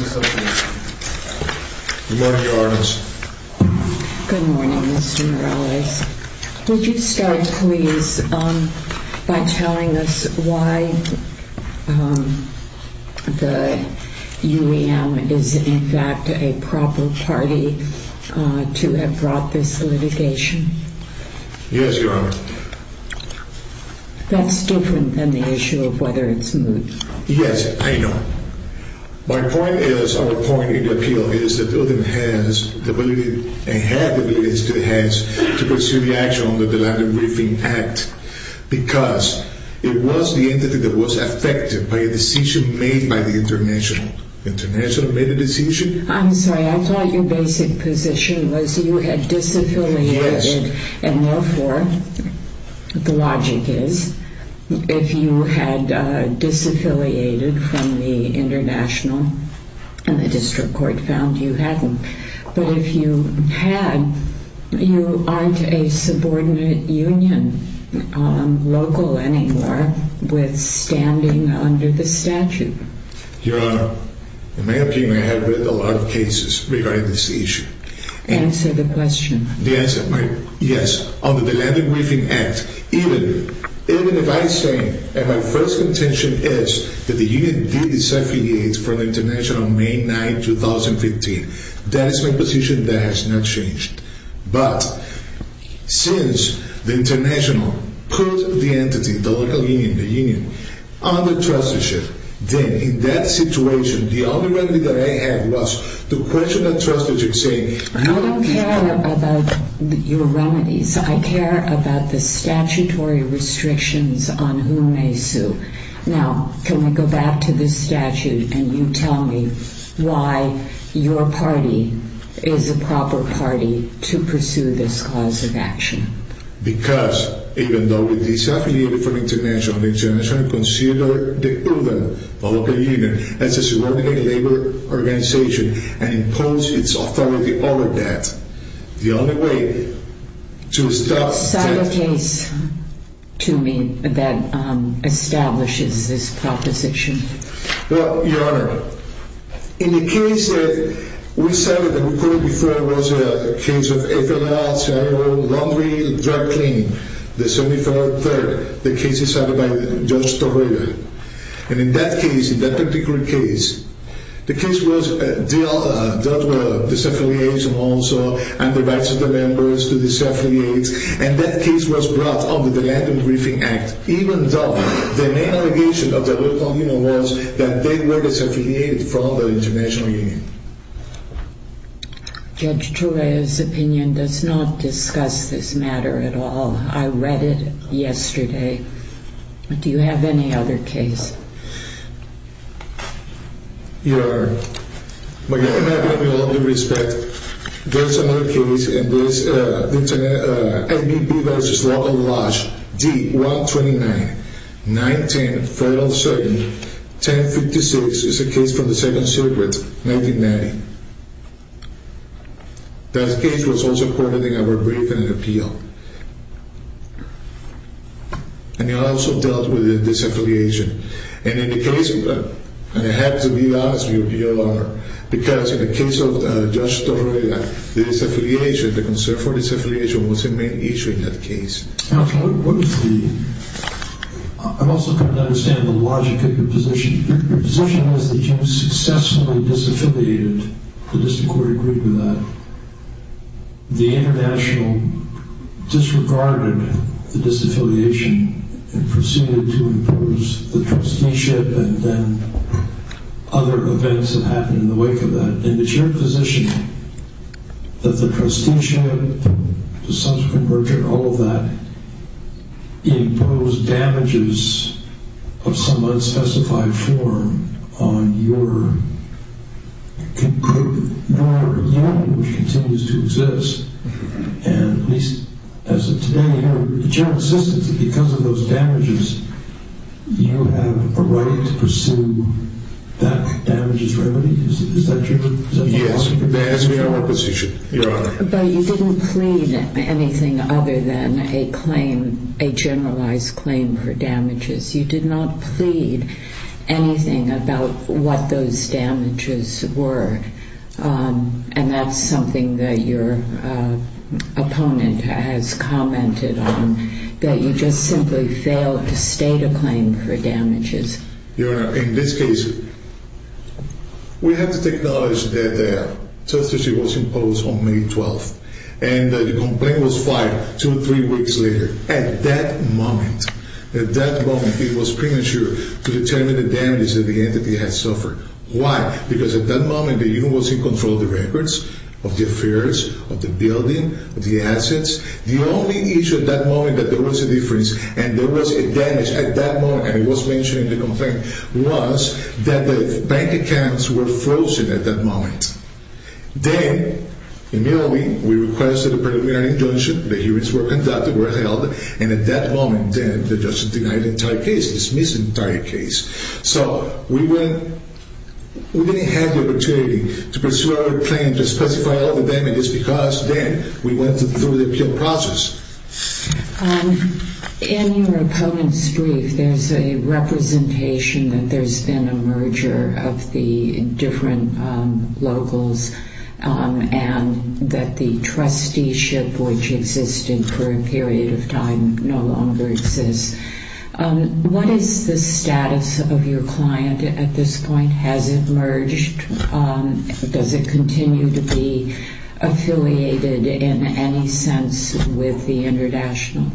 Association. Good morning, Your Honors. Good morning, Mr. Morales. Would you start, please, by telling us why the UEM is, in fact, a proper party to have brought this litigation? Yes, Your Honor. That's different than the issue of whether it's moot. Yes, I know. My point is, our point in the appeal is that UEM has the ability, and had the ability, to pursue the action under the Landon Briefing Act because it was the entity that was affected by a decision made by the International. The International made the decision? I'm sorry, I thought your basic position was you had disaffiliated. Yes. And therefore, the logic is, if you had disaffiliated from the International and the District Court found you hadn't, but if you had, you aren't a subordinate union local anymore with standing under the statute. Your Honor, in my opinion, I have read a lot of cases regarding this issue. Answer the question. Yes, on the Landon Briefing Act, even if I say that my first intention is that the union be disaffiliated from the International on May 9, 2015, that is my position that has not changed. But since the International put the entity, the local union, the union, under trusteeship, then in that situation, the only remedy that I had was to question that trusteeship, saying… I don't care about your remedies. I care about the statutory restrictions on who may sue. Now, can we go back to the statute and you tell me why your party is a proper party to pursue this cause of action? Because even though we disaffiliated from the International, the International considered the urban local union as a subordinate labor organization and imposed its authority over that. The only way to stop… What side of the case to me that establishes this proposition? And that case was brought under the Landon Briefing Act, even though the main allegation of the local union was that they were disaffiliated from the International Union. Judge Torreira's opinion does not discuss this matter at all. I read it yesterday. Do you have any other case? Your Honor, I'm going to give you all due respect. There is another case in this. ABB v. Law of Lodge, D-129, 910 Federal Circuit, 1056 is a case from the Second Circuit, 1990. That case was also recorded in our Briefing and Appeal. And it also dealt with the disaffiliation. And in the case… And I have to be honest with you, Your Honor, because in the case of Judge Torreira, the disaffiliation, the concern for disaffiliation was the main issue in that case. Counselor, what is the… I'm also trying to understand the logic of your position. Your position is that you successfully disaffiliated, the District Court agreed with that. The International disregarded the disaffiliation and proceeded to impose the trusteeship and then other events that happened in the wake of that. And it's your position that the trusteeship, the subsequent merger, all of that imposed damages of some unspecified form on your… which continues to exist. And at least as of today, Your Honor, with the general assistance, because of those damages, you have a right to pursue that damages remedy? Is that your… Yes, that is my position, Your Honor. But you didn't plead anything other than a claim, a generalized claim for damages. You did not plead anything about what those damages were. And that's something that your opponent has commented on, that you just simply failed to state a claim for damages. Your Honor, in this case, we have to acknowledge that the trusteeship was imposed on May 12th and the complaint was filed two or three weeks later. At that moment, at that moment, it was premature to determine the damages that the entity had suffered. Why? Because at that moment, the unit was in control of the records, of the affairs, of the building, of the assets. The only issue at that moment that there was a difference and there was a damage at that moment, and it was mentioned in the complaint, was that the bank accounts were frozen at that moment. Then, immediately, we requested a preliminary injunction, the hearings were conducted, were held, and at that moment, the judge denied the entire case, dismissed the entire case. So, we didn't have the opportunity to pursue our claim to specify all the damages because then we went through the appeal process. In your opponent's brief, there's a representation that there's been a merger of the different locals and that the trusteeship, which existed for a period of time, no longer exists. What is the status of your client at this point? Has it merged? Does it continue to be affiliated, in any sense, with the International?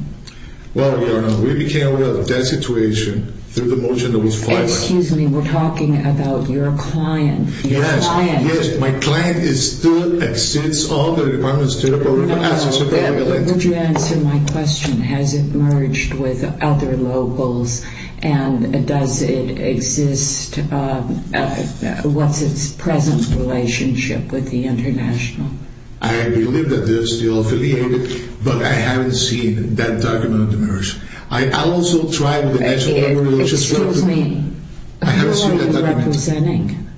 Well, we became aware of that situation through the motion that was filed. Excuse me, we're talking about your client. Yes, my client still exceeds all the requirements to the Board of Assets of the land. Would you answer my question? Has it merged with other locals, and does it exist, what's its present relationship with the International? I believe that they're still affiliated, but I haven't seen that document emerge. I also tried with the National Land Relations… Excuse me, who are you representing?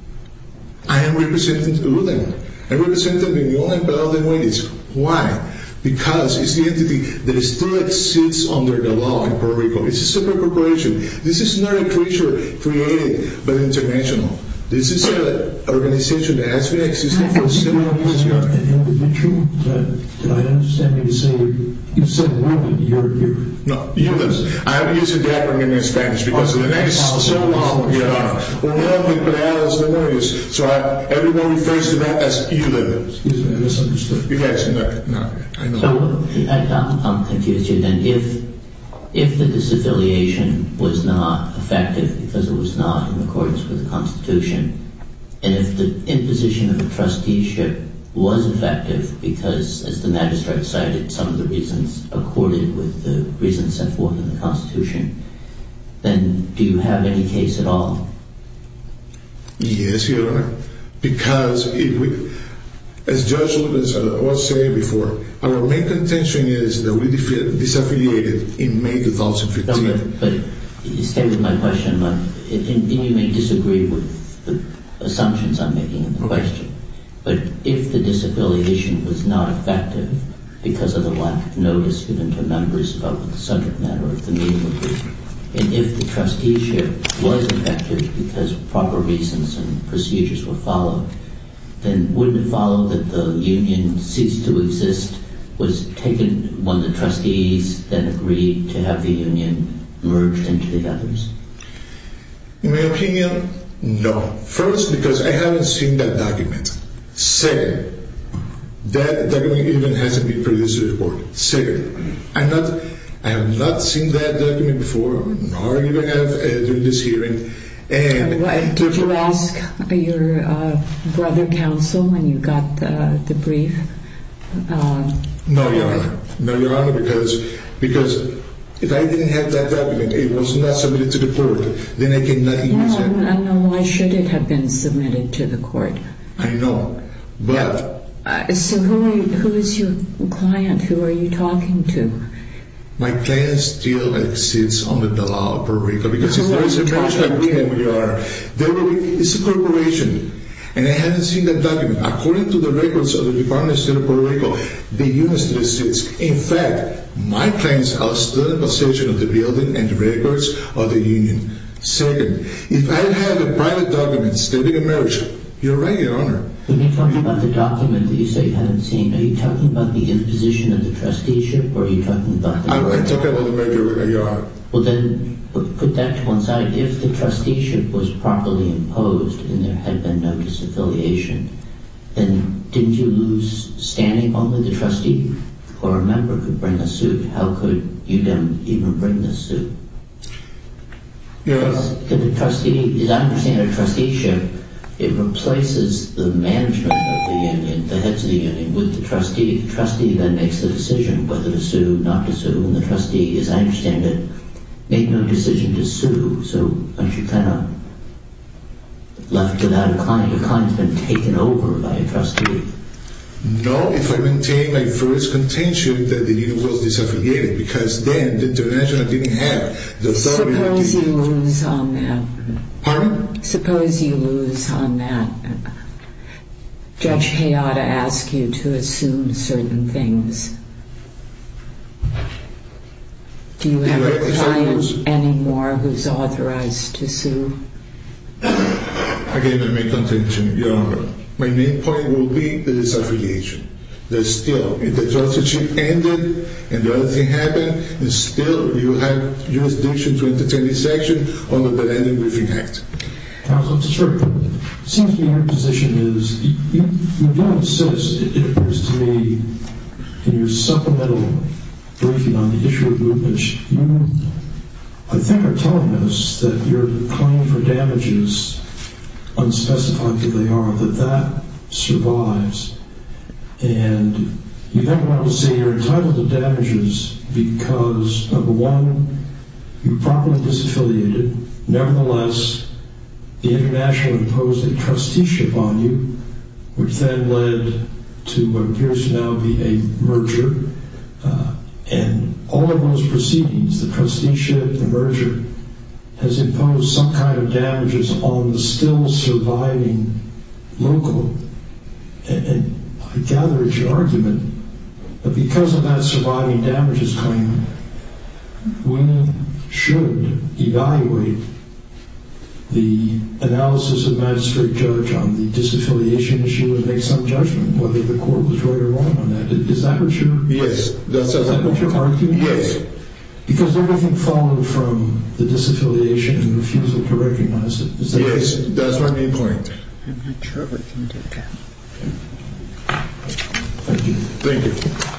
I am representing the ruling. I represent them in the only valid way. Why? Because it's the entity that still exists under the law in Puerto Rico. It's a separate corporation. This is not a creature created by the International. This is an organization that has been existing for several years. And it would be true, but I don't understand what you're saying. You said ELA. No, ELA. I'm using the acronym in Spanish, because in the next several months, we're going to have to put it out as a notice. So everyone who refers to that as ELA. Excuse me, I misunderstood. I'm confused here. If the disaffiliation was not effective because it was not in accordance with the Constitution, and if the imposition of a trusteeship was effective because, as the magistrate cited, some of the reasons accorded with the reasons set forth in the Constitution, then do you have any case at all? Yes, Your Honor. Because, as Judge Wood has said before, our main contention is that we disaffiliated in May 2015. But stay with my question. You may disagree with the assumptions I'm making in the question. But if the disaffiliation was not effective because of the lack of notice given to members about the subject matter of the meeting agreement, and if the trusteeship was effective because proper reasons and procedures were followed, then wouldn't it follow that the union ceased to exist was taken when the trustees then agreed to have the union merged into the others? In my opinion, no. First, because I haven't seen that document. Second, that document even hasn't been produced to the court. Second, I have not seen that document before, nor even have during this hearing. Did you ask your brother counsel when you got the brief? No, Your Honor. No, Your Honor. Because if I didn't have that document, it was not submitted to the court, then I cannot use it. Then why should it have been submitted to the court? I know. But... So who is your client? Who are you talking to? My client still exists under the law of Puerto Rico. Because if there is a merger... It's a corporation. And I haven't seen that document. According to the records of the Department of State of Puerto Rico, the union still exists. In fact, my clients are still in possession of the building and records of the union. Second, if I had the private documents, they would emerge. You're right, Your Honor. When you're talking about the document that you say you haven't seen, are you talking about the imposition of the trusteeship? I'm talking about the merger, Your Honor. Well then, put that to one side. If the trusteeship was properly imposed and there had been no disaffiliation, then didn't you lose standing only the trustee? Or a member could bring a suit. How could you then even bring the suit? Yes. Because the trustee, as I understand it, a trusteeship, it replaces the management of the union, the heads of the union, with the trustee. The trustee then makes the decision whether to sue, not to sue. And the trustee, as I understand it, made no decision to sue. So aren't you kind of left without a client? Your client has been taken over by a trustee. No, if I maintain my first contention that the union was disaffiliated. Because then the international didn't have the authority... Suppose you lose on that. Pardon? Suppose you lose on that. Judge Hayata asked you to assume certain things. Do you have a client anymore who's authorized to sue? Again, I make contention, Your Honor. My main point will be the disaffiliation. That still, if the trusteeship ended, and the other thing happened, and still you have jurisdiction to entertain this action under the Blanding Briefing Act. Counsel, it seems to me your position is... You don't insist, it appears to me, in your supplemental briefing on the issue of groupage, you, I think, are telling us that your claim for damages, unspecified who they are, that that survives. And you never want to say you're entitled to damages because, number one, you're properly disaffiliated. Nevertheless, the international imposed a trusteeship on you, which then led to what appears to now be a merger. And all of those proceedings, the trusteeship, the merger, has imposed some kind of damages on the still surviving local. And I gather it's your argument that because of that surviving damages claim, we should evaluate the analysis of Magistrate Judge on the disaffiliation issue and make some judgment whether the court was right or wrong on that. Is that what you're arguing? Yes. Because everything followed from the disaffiliation and refusal to recognize it. Yes, that's my main point. I'm not sure we can do that. Thank you. Thank you.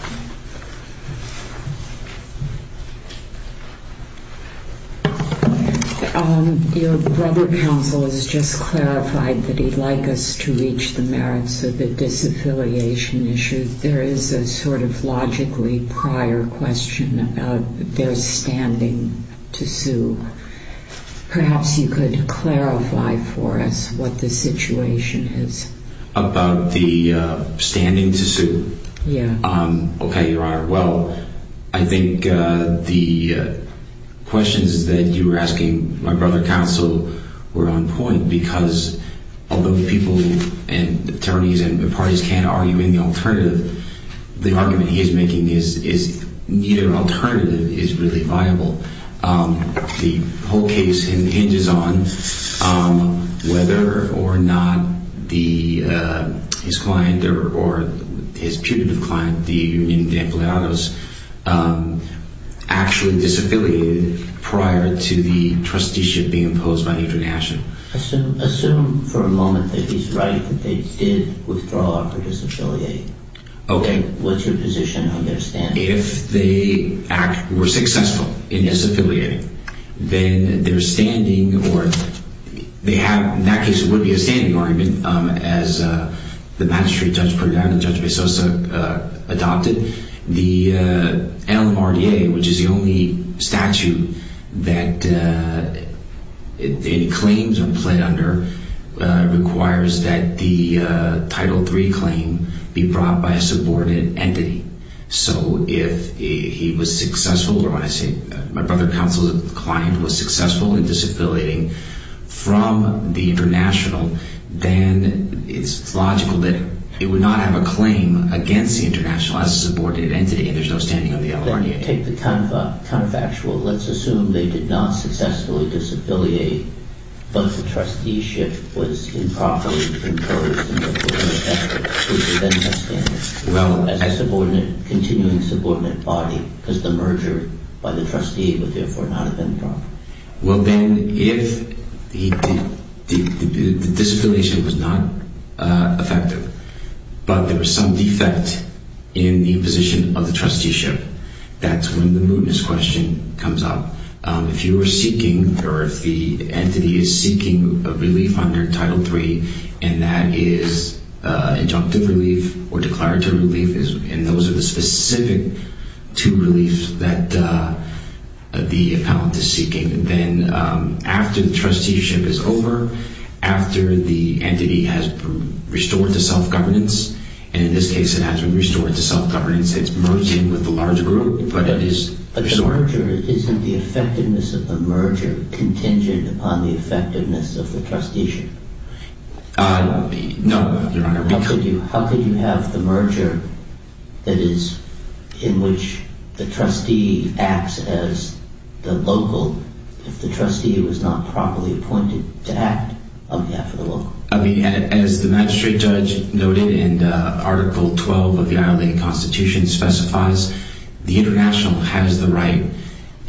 Your brother counsel has just clarified that he'd like us to reach the merits of the disaffiliation issue. There is a sort of logically prior question about their standing to sue. Perhaps you could clarify for us what the situation is. About the standing to sue? Yes. Okay, Your Honor. Well, I think the questions that you were asking my brother counsel were on point because although people and attorneys and parties can't argue any alternative, the argument he is making is neither alternative is really viable. The whole case hinges on whether or not his client or his putative client, the union de empleados, actually disaffiliated prior to the trusteeship being imposed by the international. Assume for a moment that he's right that they did withdraw or disaffiliate. Okay. What's your position on their standing? If they were successful in disaffiliating, then their standing or they have, in that case it would be a standing argument as the magistrate judge put it down and Judge Bessosa adopted. The LMRDA, which is the only statute that any claims are pled under, requires that the Title III claim be brought by a subordinate entity. So if he was successful, or my brother counsel's client was successful in disaffiliating from the international, then it's logical that it would not have a claim against the international as a subordinate entity. There's no standing on the LMRDA. Take the counterfactual. Let's assume they did not successfully disaffiliate, but the trusteeship was improperly imposed. Well, as a subordinate, continuing subordinate body, because the merger by the trustee would therefore not have been brought. Well then, if the disaffiliation was not effective, but there was some defect in the imposition of the trusteeship, that's when the mootness question comes up. If you were seeking, or if the entity is seeking relief under Title III, and that is injunctive relief, or declaratory relief, and those are the specific two reliefs that the appellant is seeking, then after the trusteeship is over, after the entity has been restored to self-governance, and in this case it has been restored to self-governance, it's merged in with the large group, but it is restored. But the merger, isn't the effectiveness of the merger contingent upon the effectiveness of the trusteeship? No, Your Honor. How could you have the merger that is, in which the trustee acts as the local, if the trustee was not properly appointed to act on behalf of the local? I mean, as the magistrate judge noted in Article 12 of the ILA Constitution specifies, the international has the right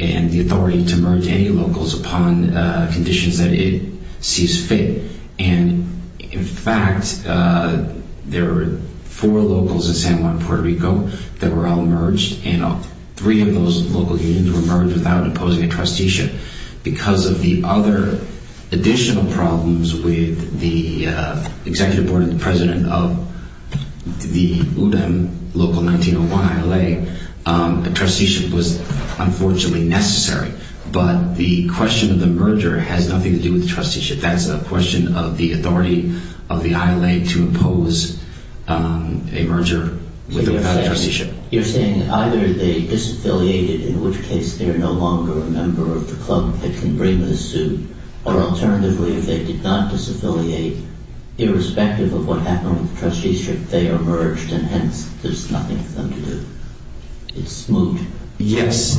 and the authority to merge any locals upon conditions that it sees fit, and in fact, there were four locals in San Juan, Puerto Rico that were all merged, and three of those local unions were merged without imposing a trusteeship. Because of the other additional problems with the executive board and the president of the UDEM local 1901 ILA, a trusteeship was unfortunately necessary. But the question of the merger has nothing to do with the trusteeship. It's a question of the authority of the ILA to impose a merger without a trusteeship. You're saying either they disaffiliated, in which case they're no longer a member of the club that can bring the suit, or alternatively, if they did not disaffiliate, irrespective of what happened with the trusteeship, they are merged, and hence, there's nothing for them to do. It's smooth. Yes,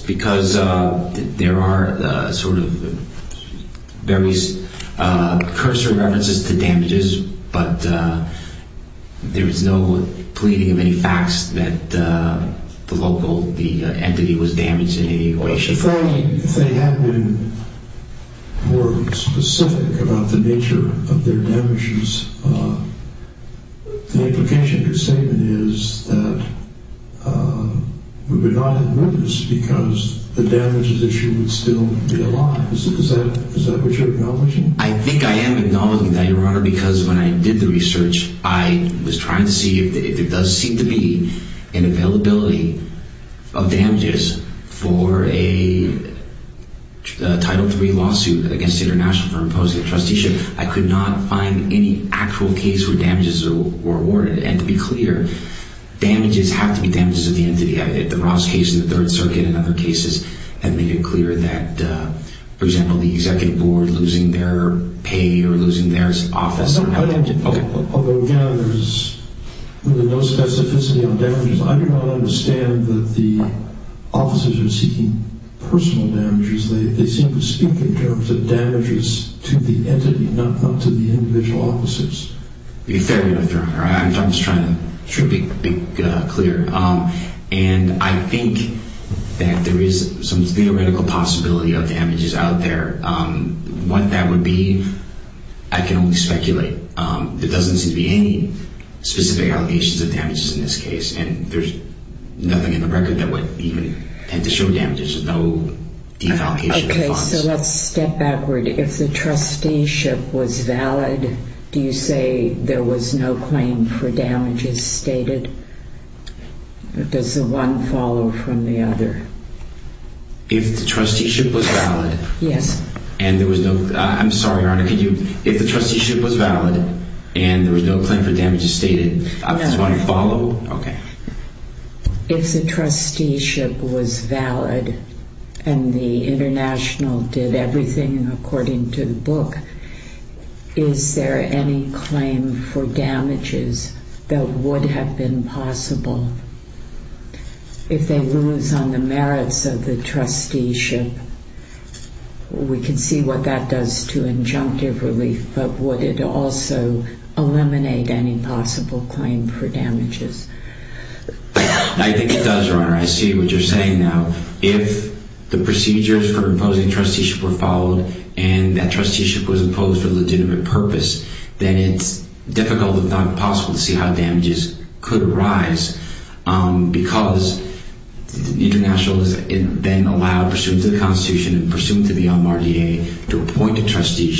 because there are various cursor references to damages, but there is no pleading of any facts that the local entity was damaged in any way, shape, or form. If they had been more specific about the nature of their damages, the implication of your statement is that we would not have merged because the damages issue would still be alive. Is that what you're acknowledging? I think I am acknowledging that, Your Honor, because when I did the research, I was trying to see if there does seem to be an availability of damages for a Title III lawsuit against the International for imposing a trusteeship. I could not find any actual case where damages were awarded. To be clear, damages have to be damages of the entity. The Ross case in the Third Circuit and other cases have made it clear that, for example, the executive board losing their pay or losing their office. Although, again, there is no specificity on damages, I do not understand that the officers are seeking personal damages. They seem to speak in terms of damages to the entity, not to the individual officers. You're fair, Your Honor. I'm just trying to be clear. And I think that there is some theoretical possibility of damages out there. What that would be, I can only speculate. There doesn't seem to be any specific allegations of damages in this case, and there's nothing in the record that would even tend to show damages. There's no defalcation of funds. Okay, so let's step backward. If the trusteeship was valid, do you say there was no claim for damages stated? Does the one follow from the other? If the trusteeship was valid? Yes. I'm sorry, Your Honor. If the trusteeship was valid and there was no claim for damages stated, does one follow? If the trusteeship was valid and the international did everything according to the book, is there any claim for damages that would have been possible? If they lose on the merits of the trusteeship, we can see what that does to injunctive relief, but would it also eliminate any possible claim for damages? I think it does, Your Honor. I see what you're saying now. If the procedures for imposing trusteeship were followed, and that trusteeship was imposed for legitimate purpose, then it's difficult, if not impossible, to see how damages could arise because the international has been allowed, pursuant to the Constitution, and pursuant to the MRDA, to appoint a trustee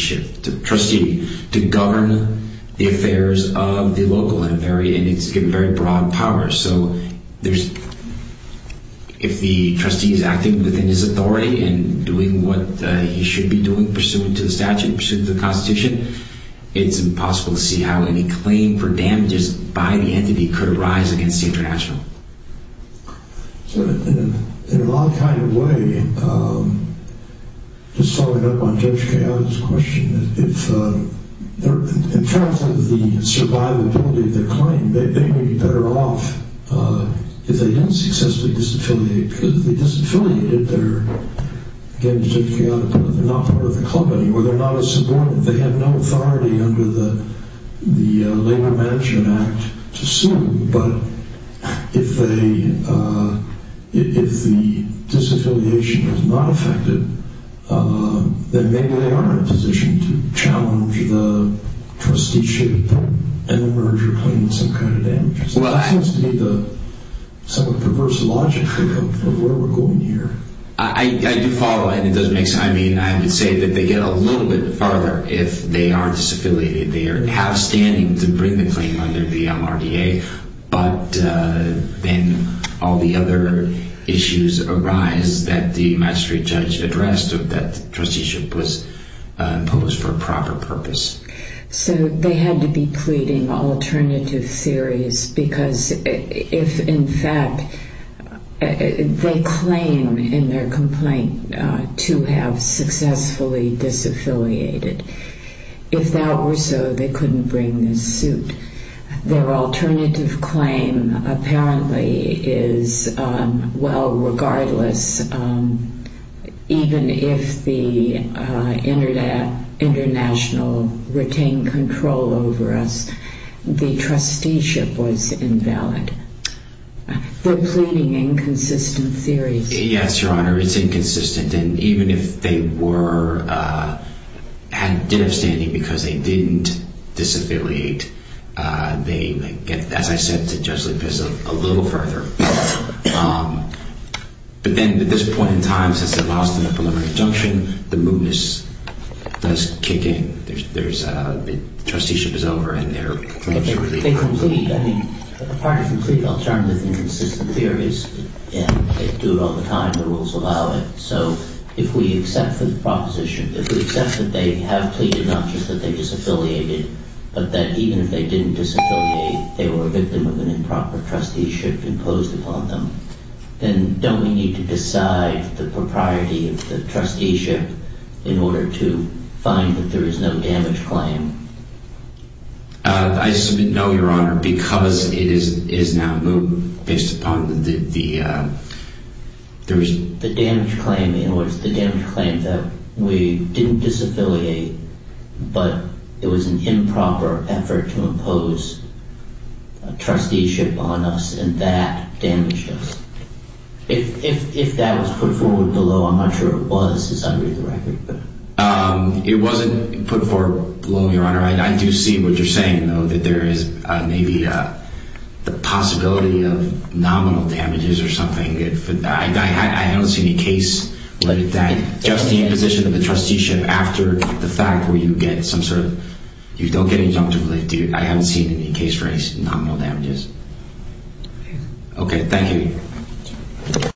to govern the affairs of the local and it's given very broad power. So if the trustee is acting within his authority and doing what he should be doing, pursuant to the statute, pursuant to the Constitution, it's impossible to see how any claim for damages by the entity could arise against the international. In a lot of kind of way, just following up on Judge Cahill's question, in terms of the survivability of the claim, they may be better off if they didn't successfully disaffiliate because if they disaffiliated, they're again, not part of the company, or they're not a subordinate. They have no authority under the Labor Management Act to sue, but if the disaffiliation is not affected, then maybe they are in a position to challenge the trusteeship and emerge or claim some kind of damages. That seems to be the somewhat perverse logic for where we're going here. I do follow, and it does make sense. I mean, I would say that they get a little bit farther if they are disaffiliated. They have standing to bring the claim under the MRDA, but then all the other issues arise that the magistrate judge addressed or that trusteeship was imposed for a proper purpose. So they had to be pleading alternative theories because if, in fact, they claim in their complaint to have successfully disaffiliated, if that were so, they couldn't bring this suit. Their alternative claim apparently is, well, regardless, even if the international retained control over us, the trusteeship was invalid. They're pleading inconsistent theories. Yes, Your Honor, it's inconsistent. And even if they did have standing because they didn't disaffiliate, they get, as I said to Judge Lepizig, a little further. But then at this point in time, since they lost in the preliminary injunction, the mootness does kick in. The trusteeship is over and they're completely relieved. They complete. I mean, the part of complete alternative and inconsistent theories, they do it all the time. The rules allow it. So if we accept the proposition, if we accept that they have pleaded, not just that they disaffiliated, but that even if they didn't disaffiliate, they were a victim of an improper trusteeship imposed upon them, then don't we need to decide the propriety of the trusteeship in order to find that there is no damage claim? I submit no, Your Honor, because it is now moot based upon the damage claim. It was the damage claim that we didn't disaffiliate, but it was an improper effort to impose a trusteeship on us and that damaged us. If that was put forward below, I'm not sure it was, as I read the record. It wasn't put forward below, Your Honor. I do see what you're saying, though, that there is maybe the possibility of nominal damages or something. I don't see any case like that. Just the imposition of the trusteeship after the fact where you get some sort of, you don't get injunctive. I haven't seen any case for nominal damages. Okay, thank you.